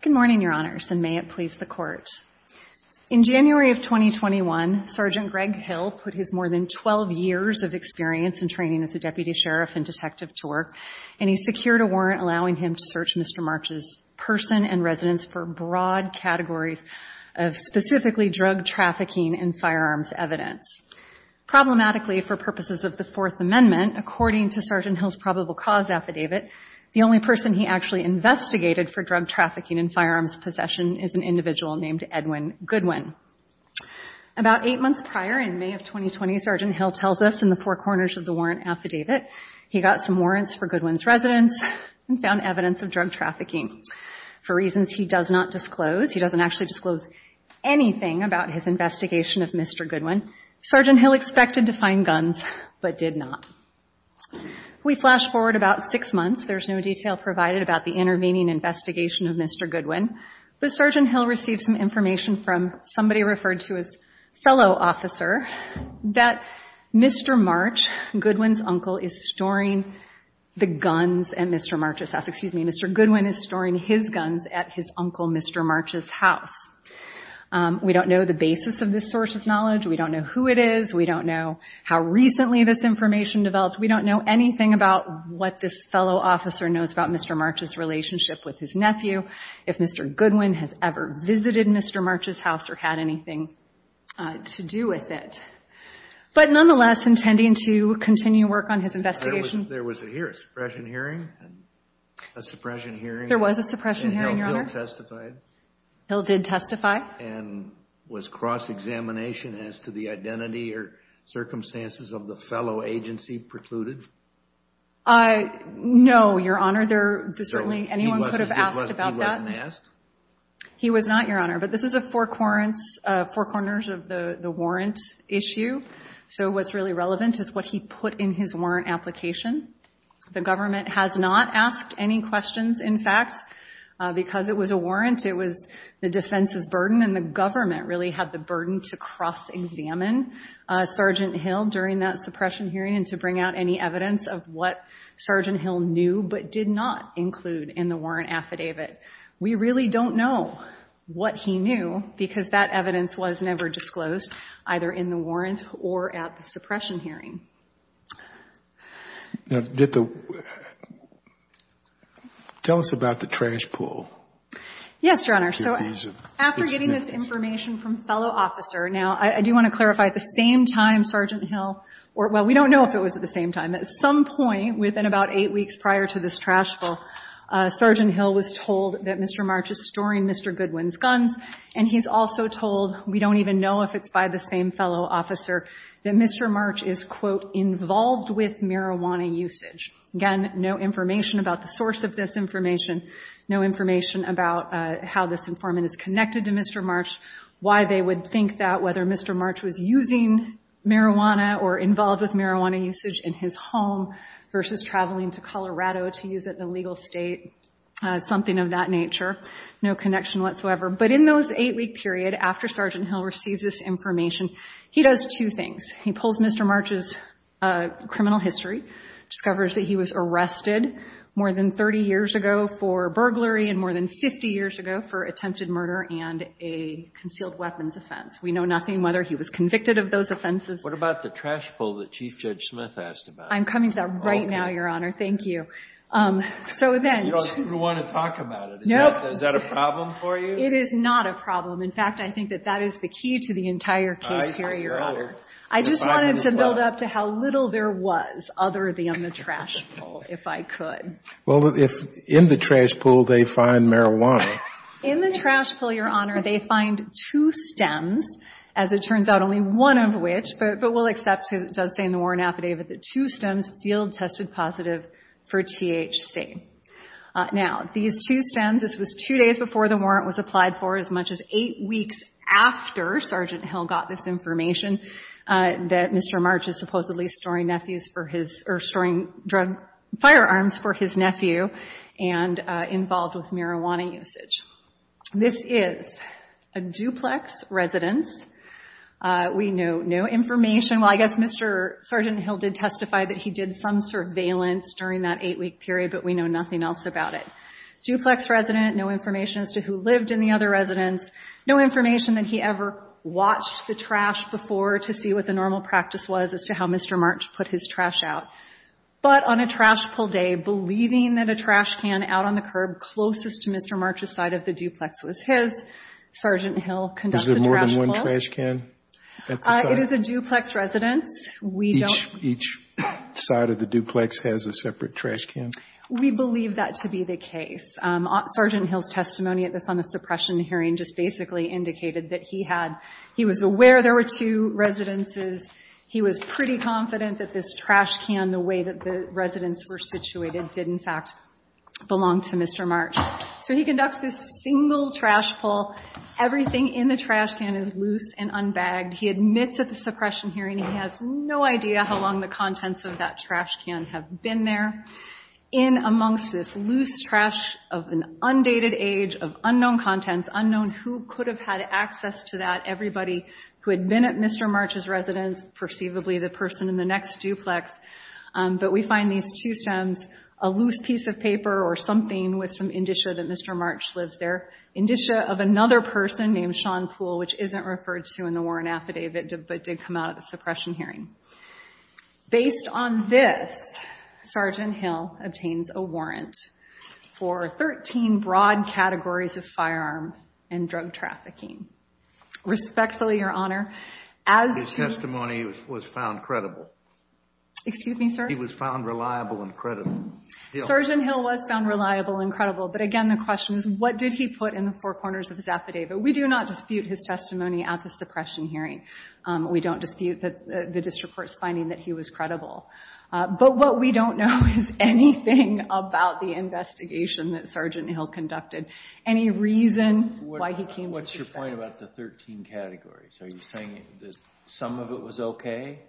Good morning, Your Honors, and may it please the court. In January of 2021, Sergeant Greg Hill put his more than 12 years of experience and training as a deputy sheriff and detective to work, and he secured a warrant allowing him to search Mr. March's person and residence for broad categories of specifically drug trafficking and firearms evidence. Problematically, for purposes of the Fourth Amendment, according to Sergeant Hill's probable cause affidavit, the only person he actually investigated for drug trafficking and firearms possession is an individual named Edwin Goodwin. About eight months prior, in May of 2020, Sergeant Hill tells us in the four corners of the warrant affidavit he got some warrants for Goodwin's residence and found evidence of drug trafficking. For reasons he does not disclose, he doesn't actually disclose anything about his investigation of Mr. Goodwin, Sergeant Hill expected to find guns but did not. We flash forward about six months. There's no detail provided about the intervening investigation of Mr. Goodwin, but Sergeant Hill received some information from somebody referred to as fellow officer that Mr. March, Goodwin's uncle, is storing the guns at Mr. March's house. Excuse me. Mr. Goodwin is storing his guns at his uncle Mr. March's house. We don't know the basis of this source's knowledge. We don't know who it is. We don't know how recently this information developed. We don't know anything about what this fellow officer knows about Mr. March's relationship with his nephew, if Mr. Goodwin has ever visited Mr. March's house or had anything to do with it. But nonetheless, intending to continue work on his investigation. There was a suppression hearing? A suppression hearing? There was a suppression hearing, Your Honor. And Hill testified? Hill did testify. And was cross-examination as to the identity or circumstances of the fellow agency precluded? No, Your Honor. Certainly anyone could have asked about that. He wasn't asked? He was not, Your Honor. But this is a four corners of the warrant issue. So what's really relevant is what he put in his warrant application. The government has not asked any questions, in fact, because it was a warrant. It was the defense's burden and the government really had the burden to cross-examine Sergeant Hill during that suppression hearing and to bring out any evidence of what Sergeant Hill knew but did not include in the warrant affidavit. We really don't know what he knew because that evidence was never disclosed, either in the warrant or at the suppression hearing. Now, did the — tell us about the trash pull. Yes, Your Honor. So after getting this information from fellow officer — now, I do want to clarify, at the same time Sergeant Hill — well, we don't know if it was at the same time. At some point within about eight weeks prior to this trash pull, Sergeant Hill was told that Mr. March is storing Mr. Goodwin's guns, and he's also told we don't even know if it's by the same fellow officer, that Mr. March is, quote, involved with marijuana usage. Again, no information about the source of this information, no information about how this informant is connected to Mr. March, why they would think that, whether Mr. March was using marijuana or involved with marijuana usage in his home versus traveling to Colorado to use it in a legal state, something of that nature. No connection whatsoever. But in those eight-week period after Sergeant Hill receives this information, he does two things. He pulls Mr. March's criminal history, discovers that he was arrested more than 30 years ago for burglary and more than 50 years ago for attempted murder and a concealed weapons offense. We know nothing whether he was convicted of those offenses. What about the trash pull that Chief Judge Smith asked about? I'm coming to that right now, Your Honor. Thank you. So then — You don't want to talk about it. Nope. Is that a problem for you? It is not a problem. In fact, I think that that is the key to the entire case here, Your Honor. I just wanted to build up to how little there was other than the trash pull, if I could. Well, if in the trash pull they find marijuana — In the trash pull, Your Honor, they find two stems, as it turns out, only one of which, but we'll accept it does say in the warrant affidavit that two stems field-tested positive for THC. Now, these two stems, this was two days before the warrant was applied for, as much as eight weeks after Sergeant Hill got this information that Mr. March is supposedly storing nephews for his — or storing drug — firearms for his nephew and involved with marijuana usage. This is a duplex residence. We know no information. Well, I guess Mr. — Sergeant Hill did testify that he did some surveillance during that eight-week period, but we know nothing else about it. Duplex resident, no information as to who lived in the other residence, no information that he ever watched the trash before to see what the normal practice was as to how Mr. March put his trash out. But on a trash pull day, believing that a trash can out on the curb closest to Mr. March's side of the duplex was his, Sergeant Hill conducted the trash pull. Was there more than one trash can at the site? It is a duplex residence. We don't — Each side of the duplex has a separate trash can. We believe that to be the case. Sergeant Hill's testimony at this — on the suppression hearing just basically indicated that he had — he was aware there were two residences. He was pretty confident that this trash can, the way that the residents were situated, did, in fact, belong to Mr. March. So he conducts this single trash pull. Everything in the trash can is loose and unbagged. He admits at the suppression hearing he has no idea how long the contents of that trash can have been there. In amongst this loose trash of an undated age, of unknown contents, unknown who could have had access to that, everybody who had been at Mr. March's residence, perceivably the person in the next duplex. But we find these two stems, a loose piece of paper or something with some indicia that Mr. March lives there, indicia of another person named Sean Poole, which isn't referred to in the warrant affidavit but did come out of the suppression hearing. Based on this, Sergeant Hill obtains a warrant for 13 broad categories of firearm and drug trafficking. Respectfully, Your Honor, as to — His testimony was found credible. Excuse me, sir? He was found reliable and credible. Sergeant Hill was found reliable and credible. But again, the question is, what did he put in the four corners of his affidavit? We do not dispute his testimony at the suppression hearing. We don't dispute the district court's finding that he was credible. But what we don't know is anything about the investigation that Sergeant Hill conducted, any reason why he came to suspect. What's your point about the 13 categories? Are you saying that some of it was okay?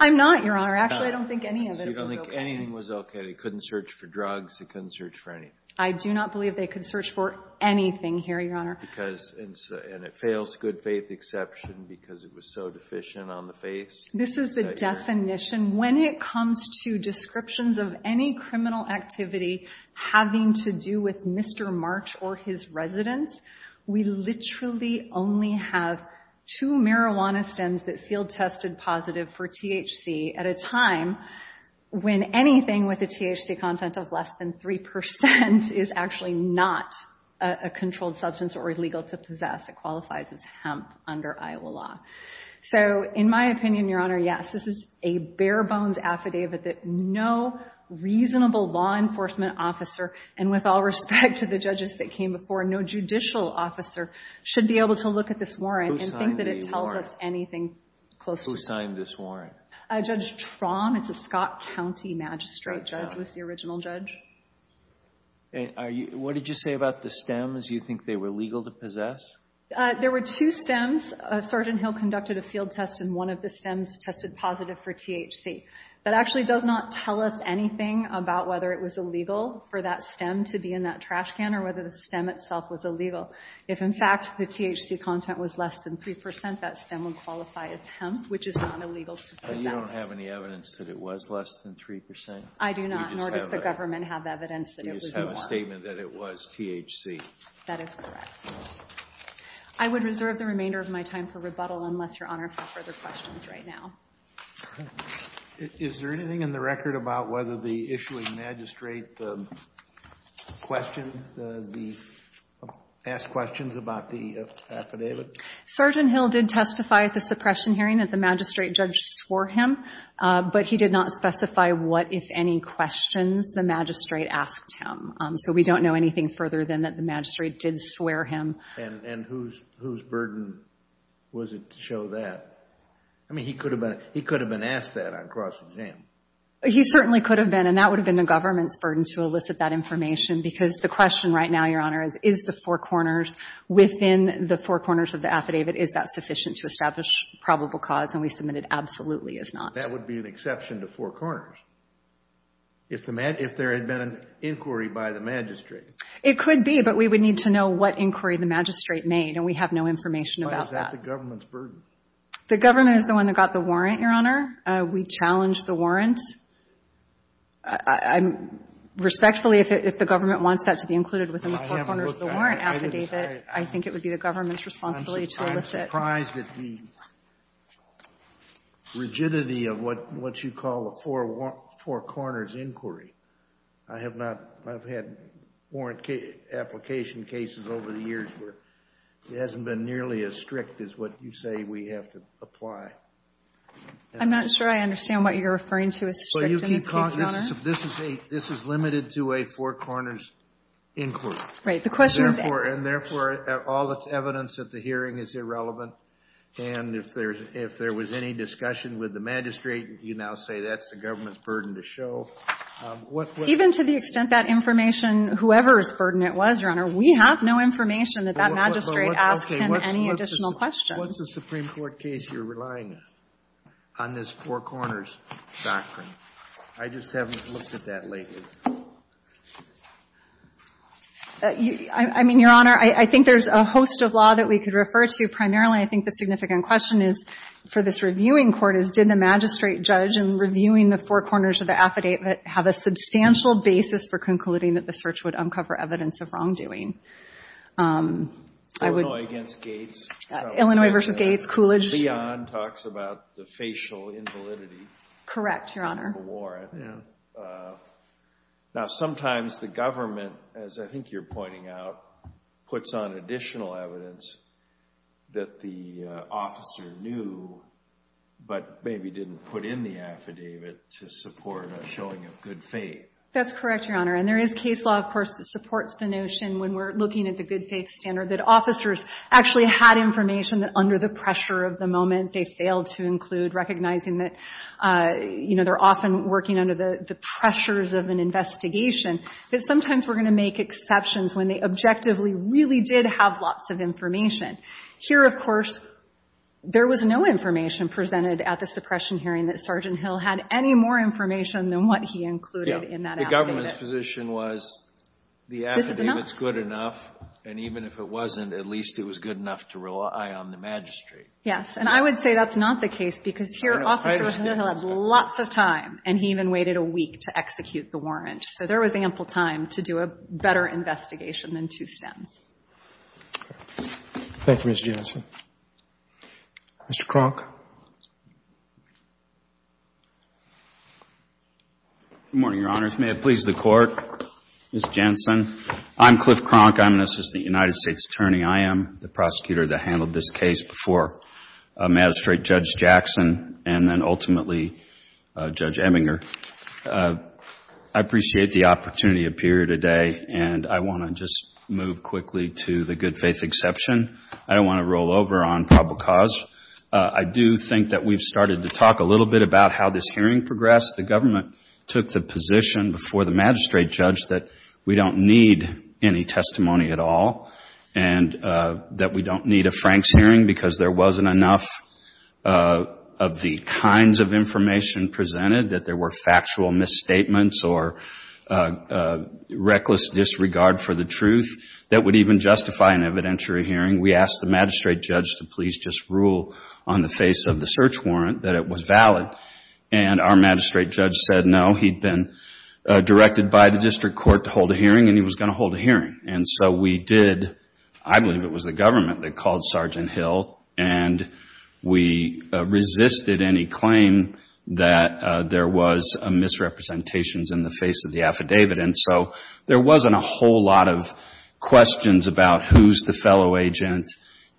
I'm not, Your Honor. Actually, I don't think any of it was okay. So you don't think anything was okay. They couldn't search for drugs. They couldn't search for anything. I do not believe they could search for anything here, Your Honor. Because — and it fails good faith exception because it was so deficient on the face. This is the definition. When it comes to descriptions of any criminal activity having to do with Mr. March or his residence, we literally only have two marijuana stems that field-tested positive for THC at a time when anything with a THC content of less than 3 percent is actually not a controlled substance or illegal to possess that qualifies as hemp under Iowa law. So in my opinion, Your Honor, yes, this is a bare-bones affidavit that no reasonable law enforcement officer, and with all respect to the judges that came before, no judicial officer should be able to look at this warrant and think that it tells us anything close to — Who signed this warrant? Judge Traum. It's a Scott County magistrate judge, was the original judge. What did you say about the stems? Do you think they were legal to possess? There were two stems. Sergeant Hill conducted a field test, and one of the stems tested positive for THC. That actually does not tell us anything about whether it was illegal for that stem to be in that trash can or whether the stem itself was illegal. If, in fact, the THC content was less than 3 percent, that stem would qualify as hemp, which is not illegal to possess. You don't have any evidence that it was less than 3 percent? I do not, nor does the government have evidence that it was a warrant. You just have a statement that it was THC. That is correct. I would reserve the remainder of my time for rebuttal unless Your Honor has no further questions right now. Is there anything in the record about whether the issuing magistrate asked questions about the affidavit? Sergeant Hill did testify at the suppression hearing that the magistrate judge swore him, but he did not specify what, if any, questions the magistrate asked him. So we don't know anything further than that the magistrate did swear him. And whose burden was it to show that? I mean, he could have been asked that on cross-exam. He certainly could have been, and that would have been the government's burden to elicit that information because the question right now, Your Honor, is, is the Four Corners within the Four Corners of the affidavit, is that sufficient to establish probable cause? And we submitted absolutely is not. That would be an exception to Four Corners. If there had been an inquiry by the magistrate. It could be, but we would need to know what inquiry the magistrate made, and we have no information about that. Why is that the government's burden? The government is the one that got the warrant, Your Honor. We challenged the warrant. Respectfully, if the government wants that to be included within the Four Corners affidavit, I think it would be the government's responsibility to elicit. I'm surprised at the rigidity of what you call a Four Corners inquiry. I have not, I've had warrant application cases over the years where it hasn't been nearly as strict as what you say we have to apply. I'm not sure I understand what you're referring to as strict in this case, Your Honor. This is a, this is limited to a Four Corners inquiry. Right. The question is that. And therefore, all the evidence at the hearing is irrelevant. And if there's, if there was any discussion with the magistrate, you now say that's the government's burden to show. Even to the extent that information, whoever's burden it was, Your Honor, we have no information that that magistrate asked him any additional questions. What's the Supreme Court case you're relying on, on this Four Corners doctrine? I just haven't looked at that lately. I mean, Your Honor, I think there's a host of law that we could refer to. Primarily, I think the significant question is, for this reviewing court, is did the magistrate judge in reviewing the Four Corners of the affidavit have a substantial basis for concluding that the search would uncover evidence of wrongdoing? Illinois against Gates. Illinois versus Gates, Coolidge. Leon talks about the facial invalidity. Correct, Your Honor. In the war, I think. Now, sometimes the government, as I think you're pointing out, puts on additional evidence that the officer knew, but maybe didn't put in the affidavit to support a showing of good faith. That's correct, Your Honor. And there is case law, of course, that supports the notion, when we're looking at the good faith standard, that officers actually had information that under the pressure of the moment they failed to include, recognizing that, you know, they're often working under the pressures of an investigation, that sometimes we're going to make exceptions when they objectively really did have lots of information. Here, of course, there was no information presented at the suppression hearing that Sergeant Hill had any more information than what he included in that affidavit. The government's position was the affidavit's good enough, and even if it wasn't, at least it was good enough to rely on the magistrate. Yes. And I would say that's not the case, because here, Sergeant Hill had lots of time, and he even waited a week to execute the warrant. So there was ample time to do a better investigation than to stem. Thank you, Ms. Jensen. Mr. Kronk. Good morning, Your Honors. May it please the Court, Ms. Jensen. I'm Cliff Kronk. I'm an assistant United States attorney. I am the prosecutor that handled this case before Magistrate Judge Jackson and then, ultimately, Judge Eminger. I appreciate the opportunity to appear today, and I want to just move quickly to the good faith exception. I don't want to roll over on probable cause. I do think that we've started to talk a little bit about how this hearing progressed. The government took the position before the magistrate judge that we don't need any testimony at all, and that we don't need a Franks hearing because there wasn't enough of the kinds of information presented, that there were factual misstatements or reckless disregard for the truth that would even justify an evidentiary hearing. We asked the magistrate judge to please just rule on the face of the search warrant that it was valid, and our magistrate judge said no. He'd been directed by the district court to hold a hearing, and he was going to hold a hearing. We did, I believe it was the government that called Sergeant Hill, and we resisted any claim that there was misrepresentations in the face of the affidavit. There wasn't a whole lot of questions about who's the fellow agent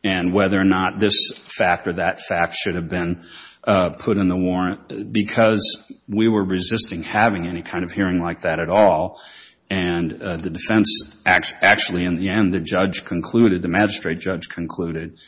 and whether or not this fact or that fact should have been put in the warrant because we were resisting having any kind of hearing like that at all. And the defense, actually, in the end, the judge concluded, the magistrate judge concluded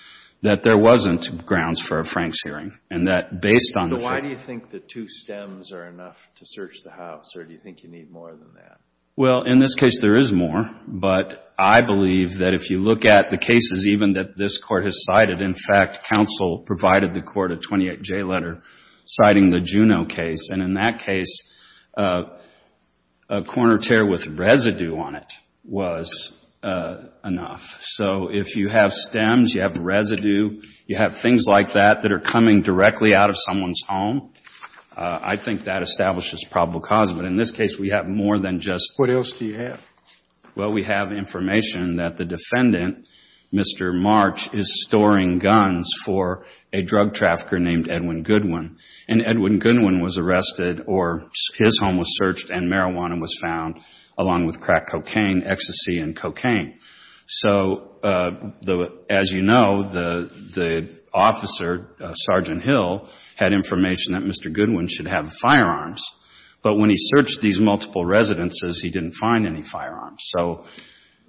that there wasn't grounds for a Franks hearing, and that based on the fact... So why do you think the two stems are enough to search the house, or do you think you need more than that? Well, in this case, there is more, but I believe that if you look at the cases even that this court has cited, in fact, counsel provided the court a 28-J letter citing the Juneau case, and in that case, a corner tear with residue on it was enough. So if you have stems, you have residue, you have things like that that are coming directly out of someone's home, I think that establishes probable cause. But in this case, we have more than just... What else do you have? Well, we have information that the defendant, Mr. March, is storing guns for a drug trafficker named Edwin Goodwin. And Edwin Goodwin was arrested, or his home was searched, and marijuana was found along with crack cocaine, ecstasy, and cocaine. So as you know, the officer, Sergeant Hill, had information that Mr. Goodwin should have firearms, but when he searched these multiple residences, he didn't find any firearms. So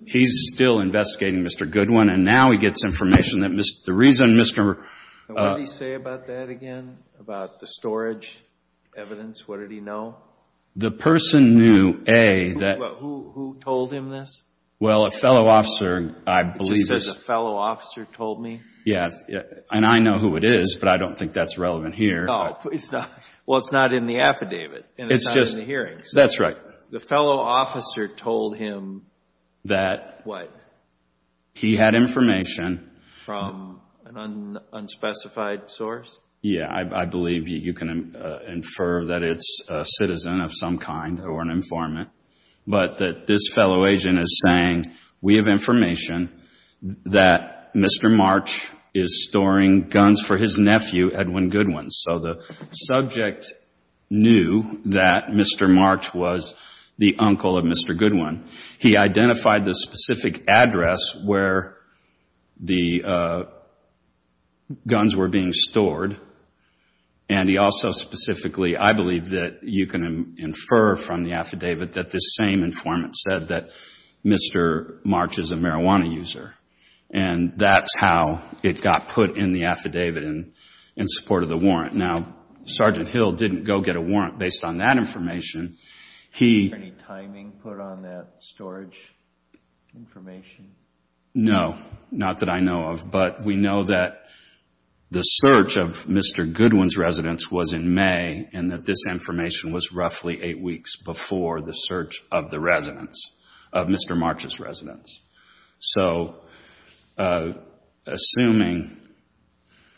he's still investigating Mr. Goodwin, and now he gets information that the reason Mr.... What did he say about that again? About the storage evidence? What did he know? The person knew, A, that... Who told him this? Well, a fellow officer, I believe... He says, a fellow officer told me? Yes, and I know who it is, but I don't think that's relevant here. Well, it's not in the affidavit, and it's not in the hearings. That's right. The fellow officer told him that... What? He had information... From an unspecified source? Yeah, I believe you can infer that it's a citizen of some kind, or an informant, but that this fellow agent is saying, we have information that Mr. March is storing guns for his nephew, Edwin Goodwin. So the subject knew that Mr. March was the uncle of Mr. Goodwin. He identified the specific address where the guns were being stored, and he also specifically, I believe that you can infer from the affidavit that this same informant said that Mr. March is a marijuana user, and that's how it got put in the affidavit in support of the warrant. Now, Sergeant Hill didn't go get a warrant based on that information. He... Any timing put on that storage information? No, not that I know of. But we know that the search of Mr. Goodwin's residence was in May, and that this information was roughly eight weeks before the search of the residence, of Mr. March's residence. So assuming...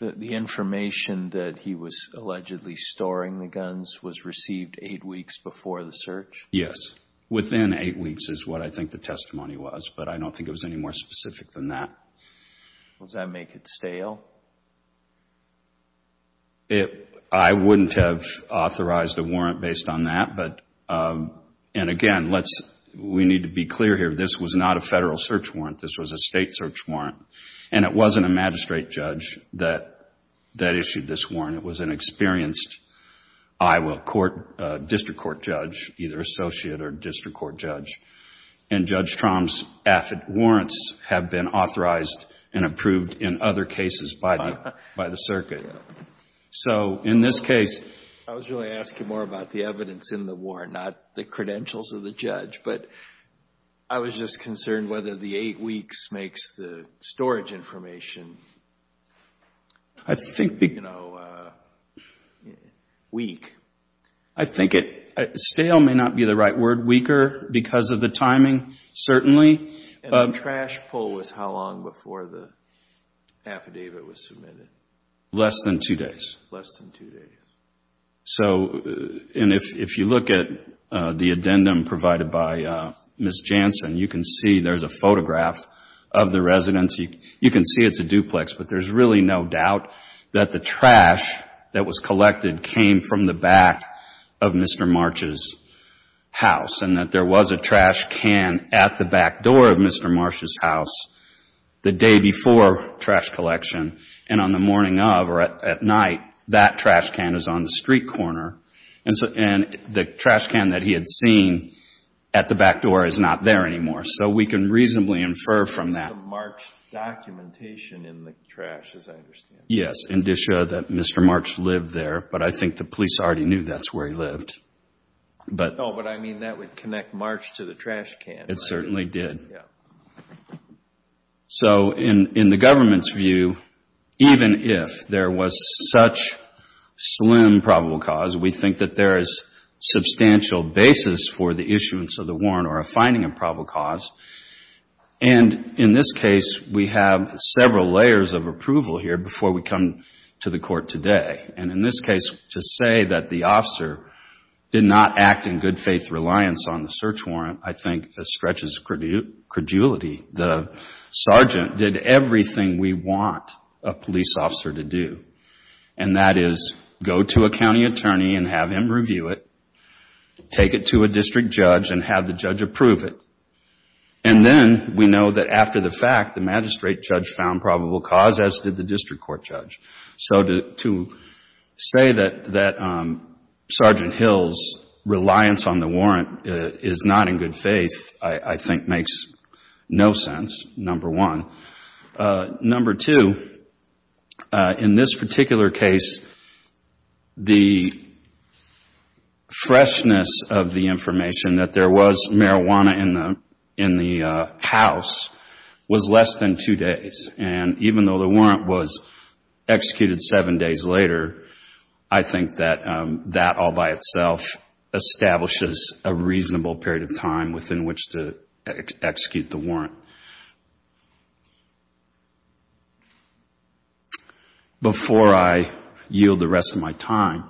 The information that he was allegedly storing the guns was received eight weeks before the search? Yes. Within eight weeks is what I think the testimony was, but I don't think it was any more specific than that. Does that make it stale? I wouldn't have authorized a warrant based on that. But, and again, we need to be clear here. This was not a federal search warrant. This was a state search warrant, and it wasn't a magistrate judge that issued this warrant. It was an experienced Iowa court, district court judge, either associate or district court judge. And Judge Trom's affid warrants have been authorized and approved in other cases by the circuit. So in this case... I was really asking more about the evidence in the warrant, not the credentials of the judge. But I was just concerned whether the eight weeks makes the storage information... ...weak. I think it... Stale may not be the right word. Weaker because of the timing, certainly. And the trash pull was how long before the affidavit was submitted? Less than two days. Less than two days. So, and if you look at the addendum provided by Ms. Jansen, you can see there's a photograph of the residence. You can see it's a duplex, but there's really no doubt that the trash that was collected came from the back of Mr. March's house, and that there was a trash can at the back door of Mr. March's house the day before trash collection. And on the morning of, or at night, that trash can is on the street corner. And the trash can that he had seen at the back door is not there anymore. So we can reasonably infer from that... ...trash, as I understand it. Yes. And to show that Mr. March lived there, but I think the police already knew that's where he lived. No, but I mean that would connect March to the trash can. It certainly did. So in the government's view, even if there was such slim probable cause, we think that there is substantial basis for the issuance of the warrant or a finding of probable cause. And in this case, we have several layers of approval here before we come to the court today. And in this case, to say that the officer did not act in good faith reliance on the search warrant, I think, stretches credulity. The sergeant did everything we want a police officer to do, and that is go to a county attorney and have him review it, take it to a district judge and have the judge approve it. And then we know that after the fact, the magistrate judge found probable cause, as did the district court judge. So to say that Sergeant Hill's reliance on the warrant is not in good faith, I think, makes no sense, number one. Number two, in this particular case, the freshness of the information that there was marijuana in the house was less than two days. And even though the warrant was executed seven days later, I think that that all by itself establishes a reasonable period of time within which to execute the warrant. Before I yield the rest of my time,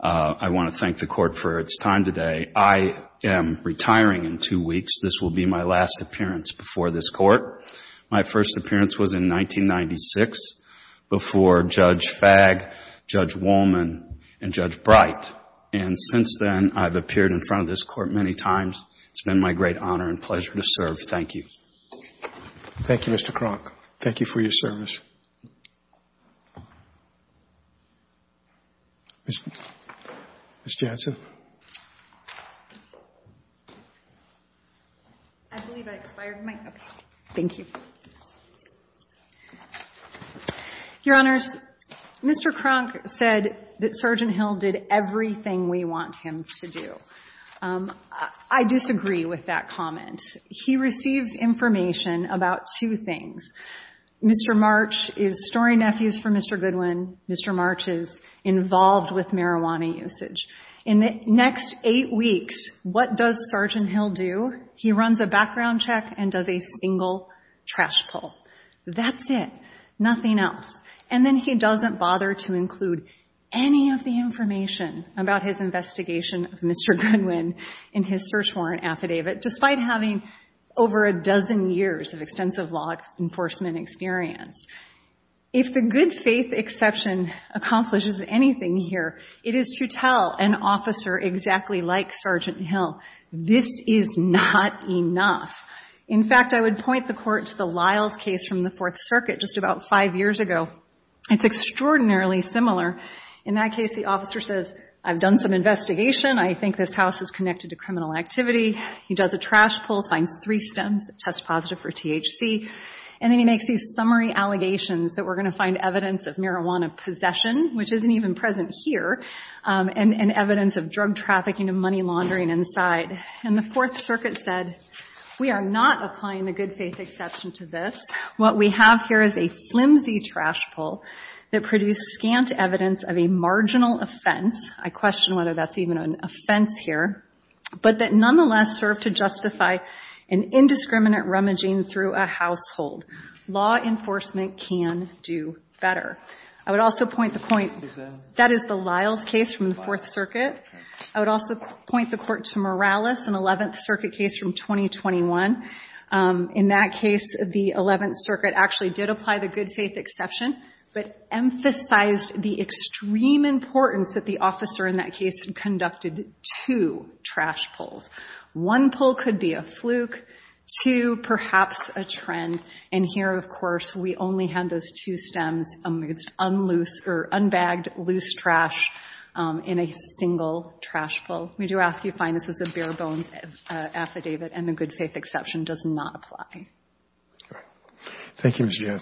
I want to thank the court for its time today. I am retiring in two weeks. This will be my last appearance before this court. My first appearance was in 1996 before Judge Fagg, Judge Wollman, and Judge Bright. And since then, I've appeared in front of this court many times. It's been my great honor and pleasure to serve. Thank you. Thank you, Mr. Kronk. Thank you for your service. Ms. Jansen? I believe I expired my... Okay. Thank you. Your Honors, Mr. Kronk said that Sergeant Hill did everything we want him to do. I disagree with that comment. He receives information about two things. Mr. March is story nephews for Mr. Goodwin. Mr. March is involved with marijuana usage. In the next eight weeks, what does Sergeant Hill do? He runs a background check and does a single trash pull. That's it. Nothing else. And then he doesn't bother to include any of the information about his investigation of Mr. Goodwin in his search warrant affidavit, despite having over a dozen years of extensive law enforcement experience. If the good faith exception accomplishes anything here, it is to tell an officer exactly like Sergeant Hill, this is not enough. In fact, I would point the court to the Lyles case from the Fourth Circuit just about five years ago. It's extraordinarily similar. In that case, the officer says, I've done some investigation. I think this house is connected to criminal activity. He does a trash pull, finds three stems that test positive for THC. And then he makes these summary allegations that we're going to find evidence of marijuana possession, which isn't even present here, and evidence of drug trafficking and money laundering inside. And the Fourth Circuit said, we are not applying the good faith exception to this. What we have here is a flimsy trash pull that produced scant evidence of a marginal offense. I question whether that's even an offense here. But that nonetheless served to justify an indiscriminate rummaging through a household. Law enforcement can do better. I would also point the point, that is the Lyles case from the Fourth Circuit. I would also point the court to Morales, an 11th Circuit case from 2021. In that case, the 11th Circuit actually did apply the good faith exception, but emphasized the extreme importance that the officer in that case had conducted two trash pulls. One pull could be a fluke, two perhaps a trend. And here, of course, we only had those two stems, unbagged loose trash in a single trash pull. We do ask you to find this was a bare bones affidavit, and the good faith exception does not apply. All right. Thank you, Ms. Johnson.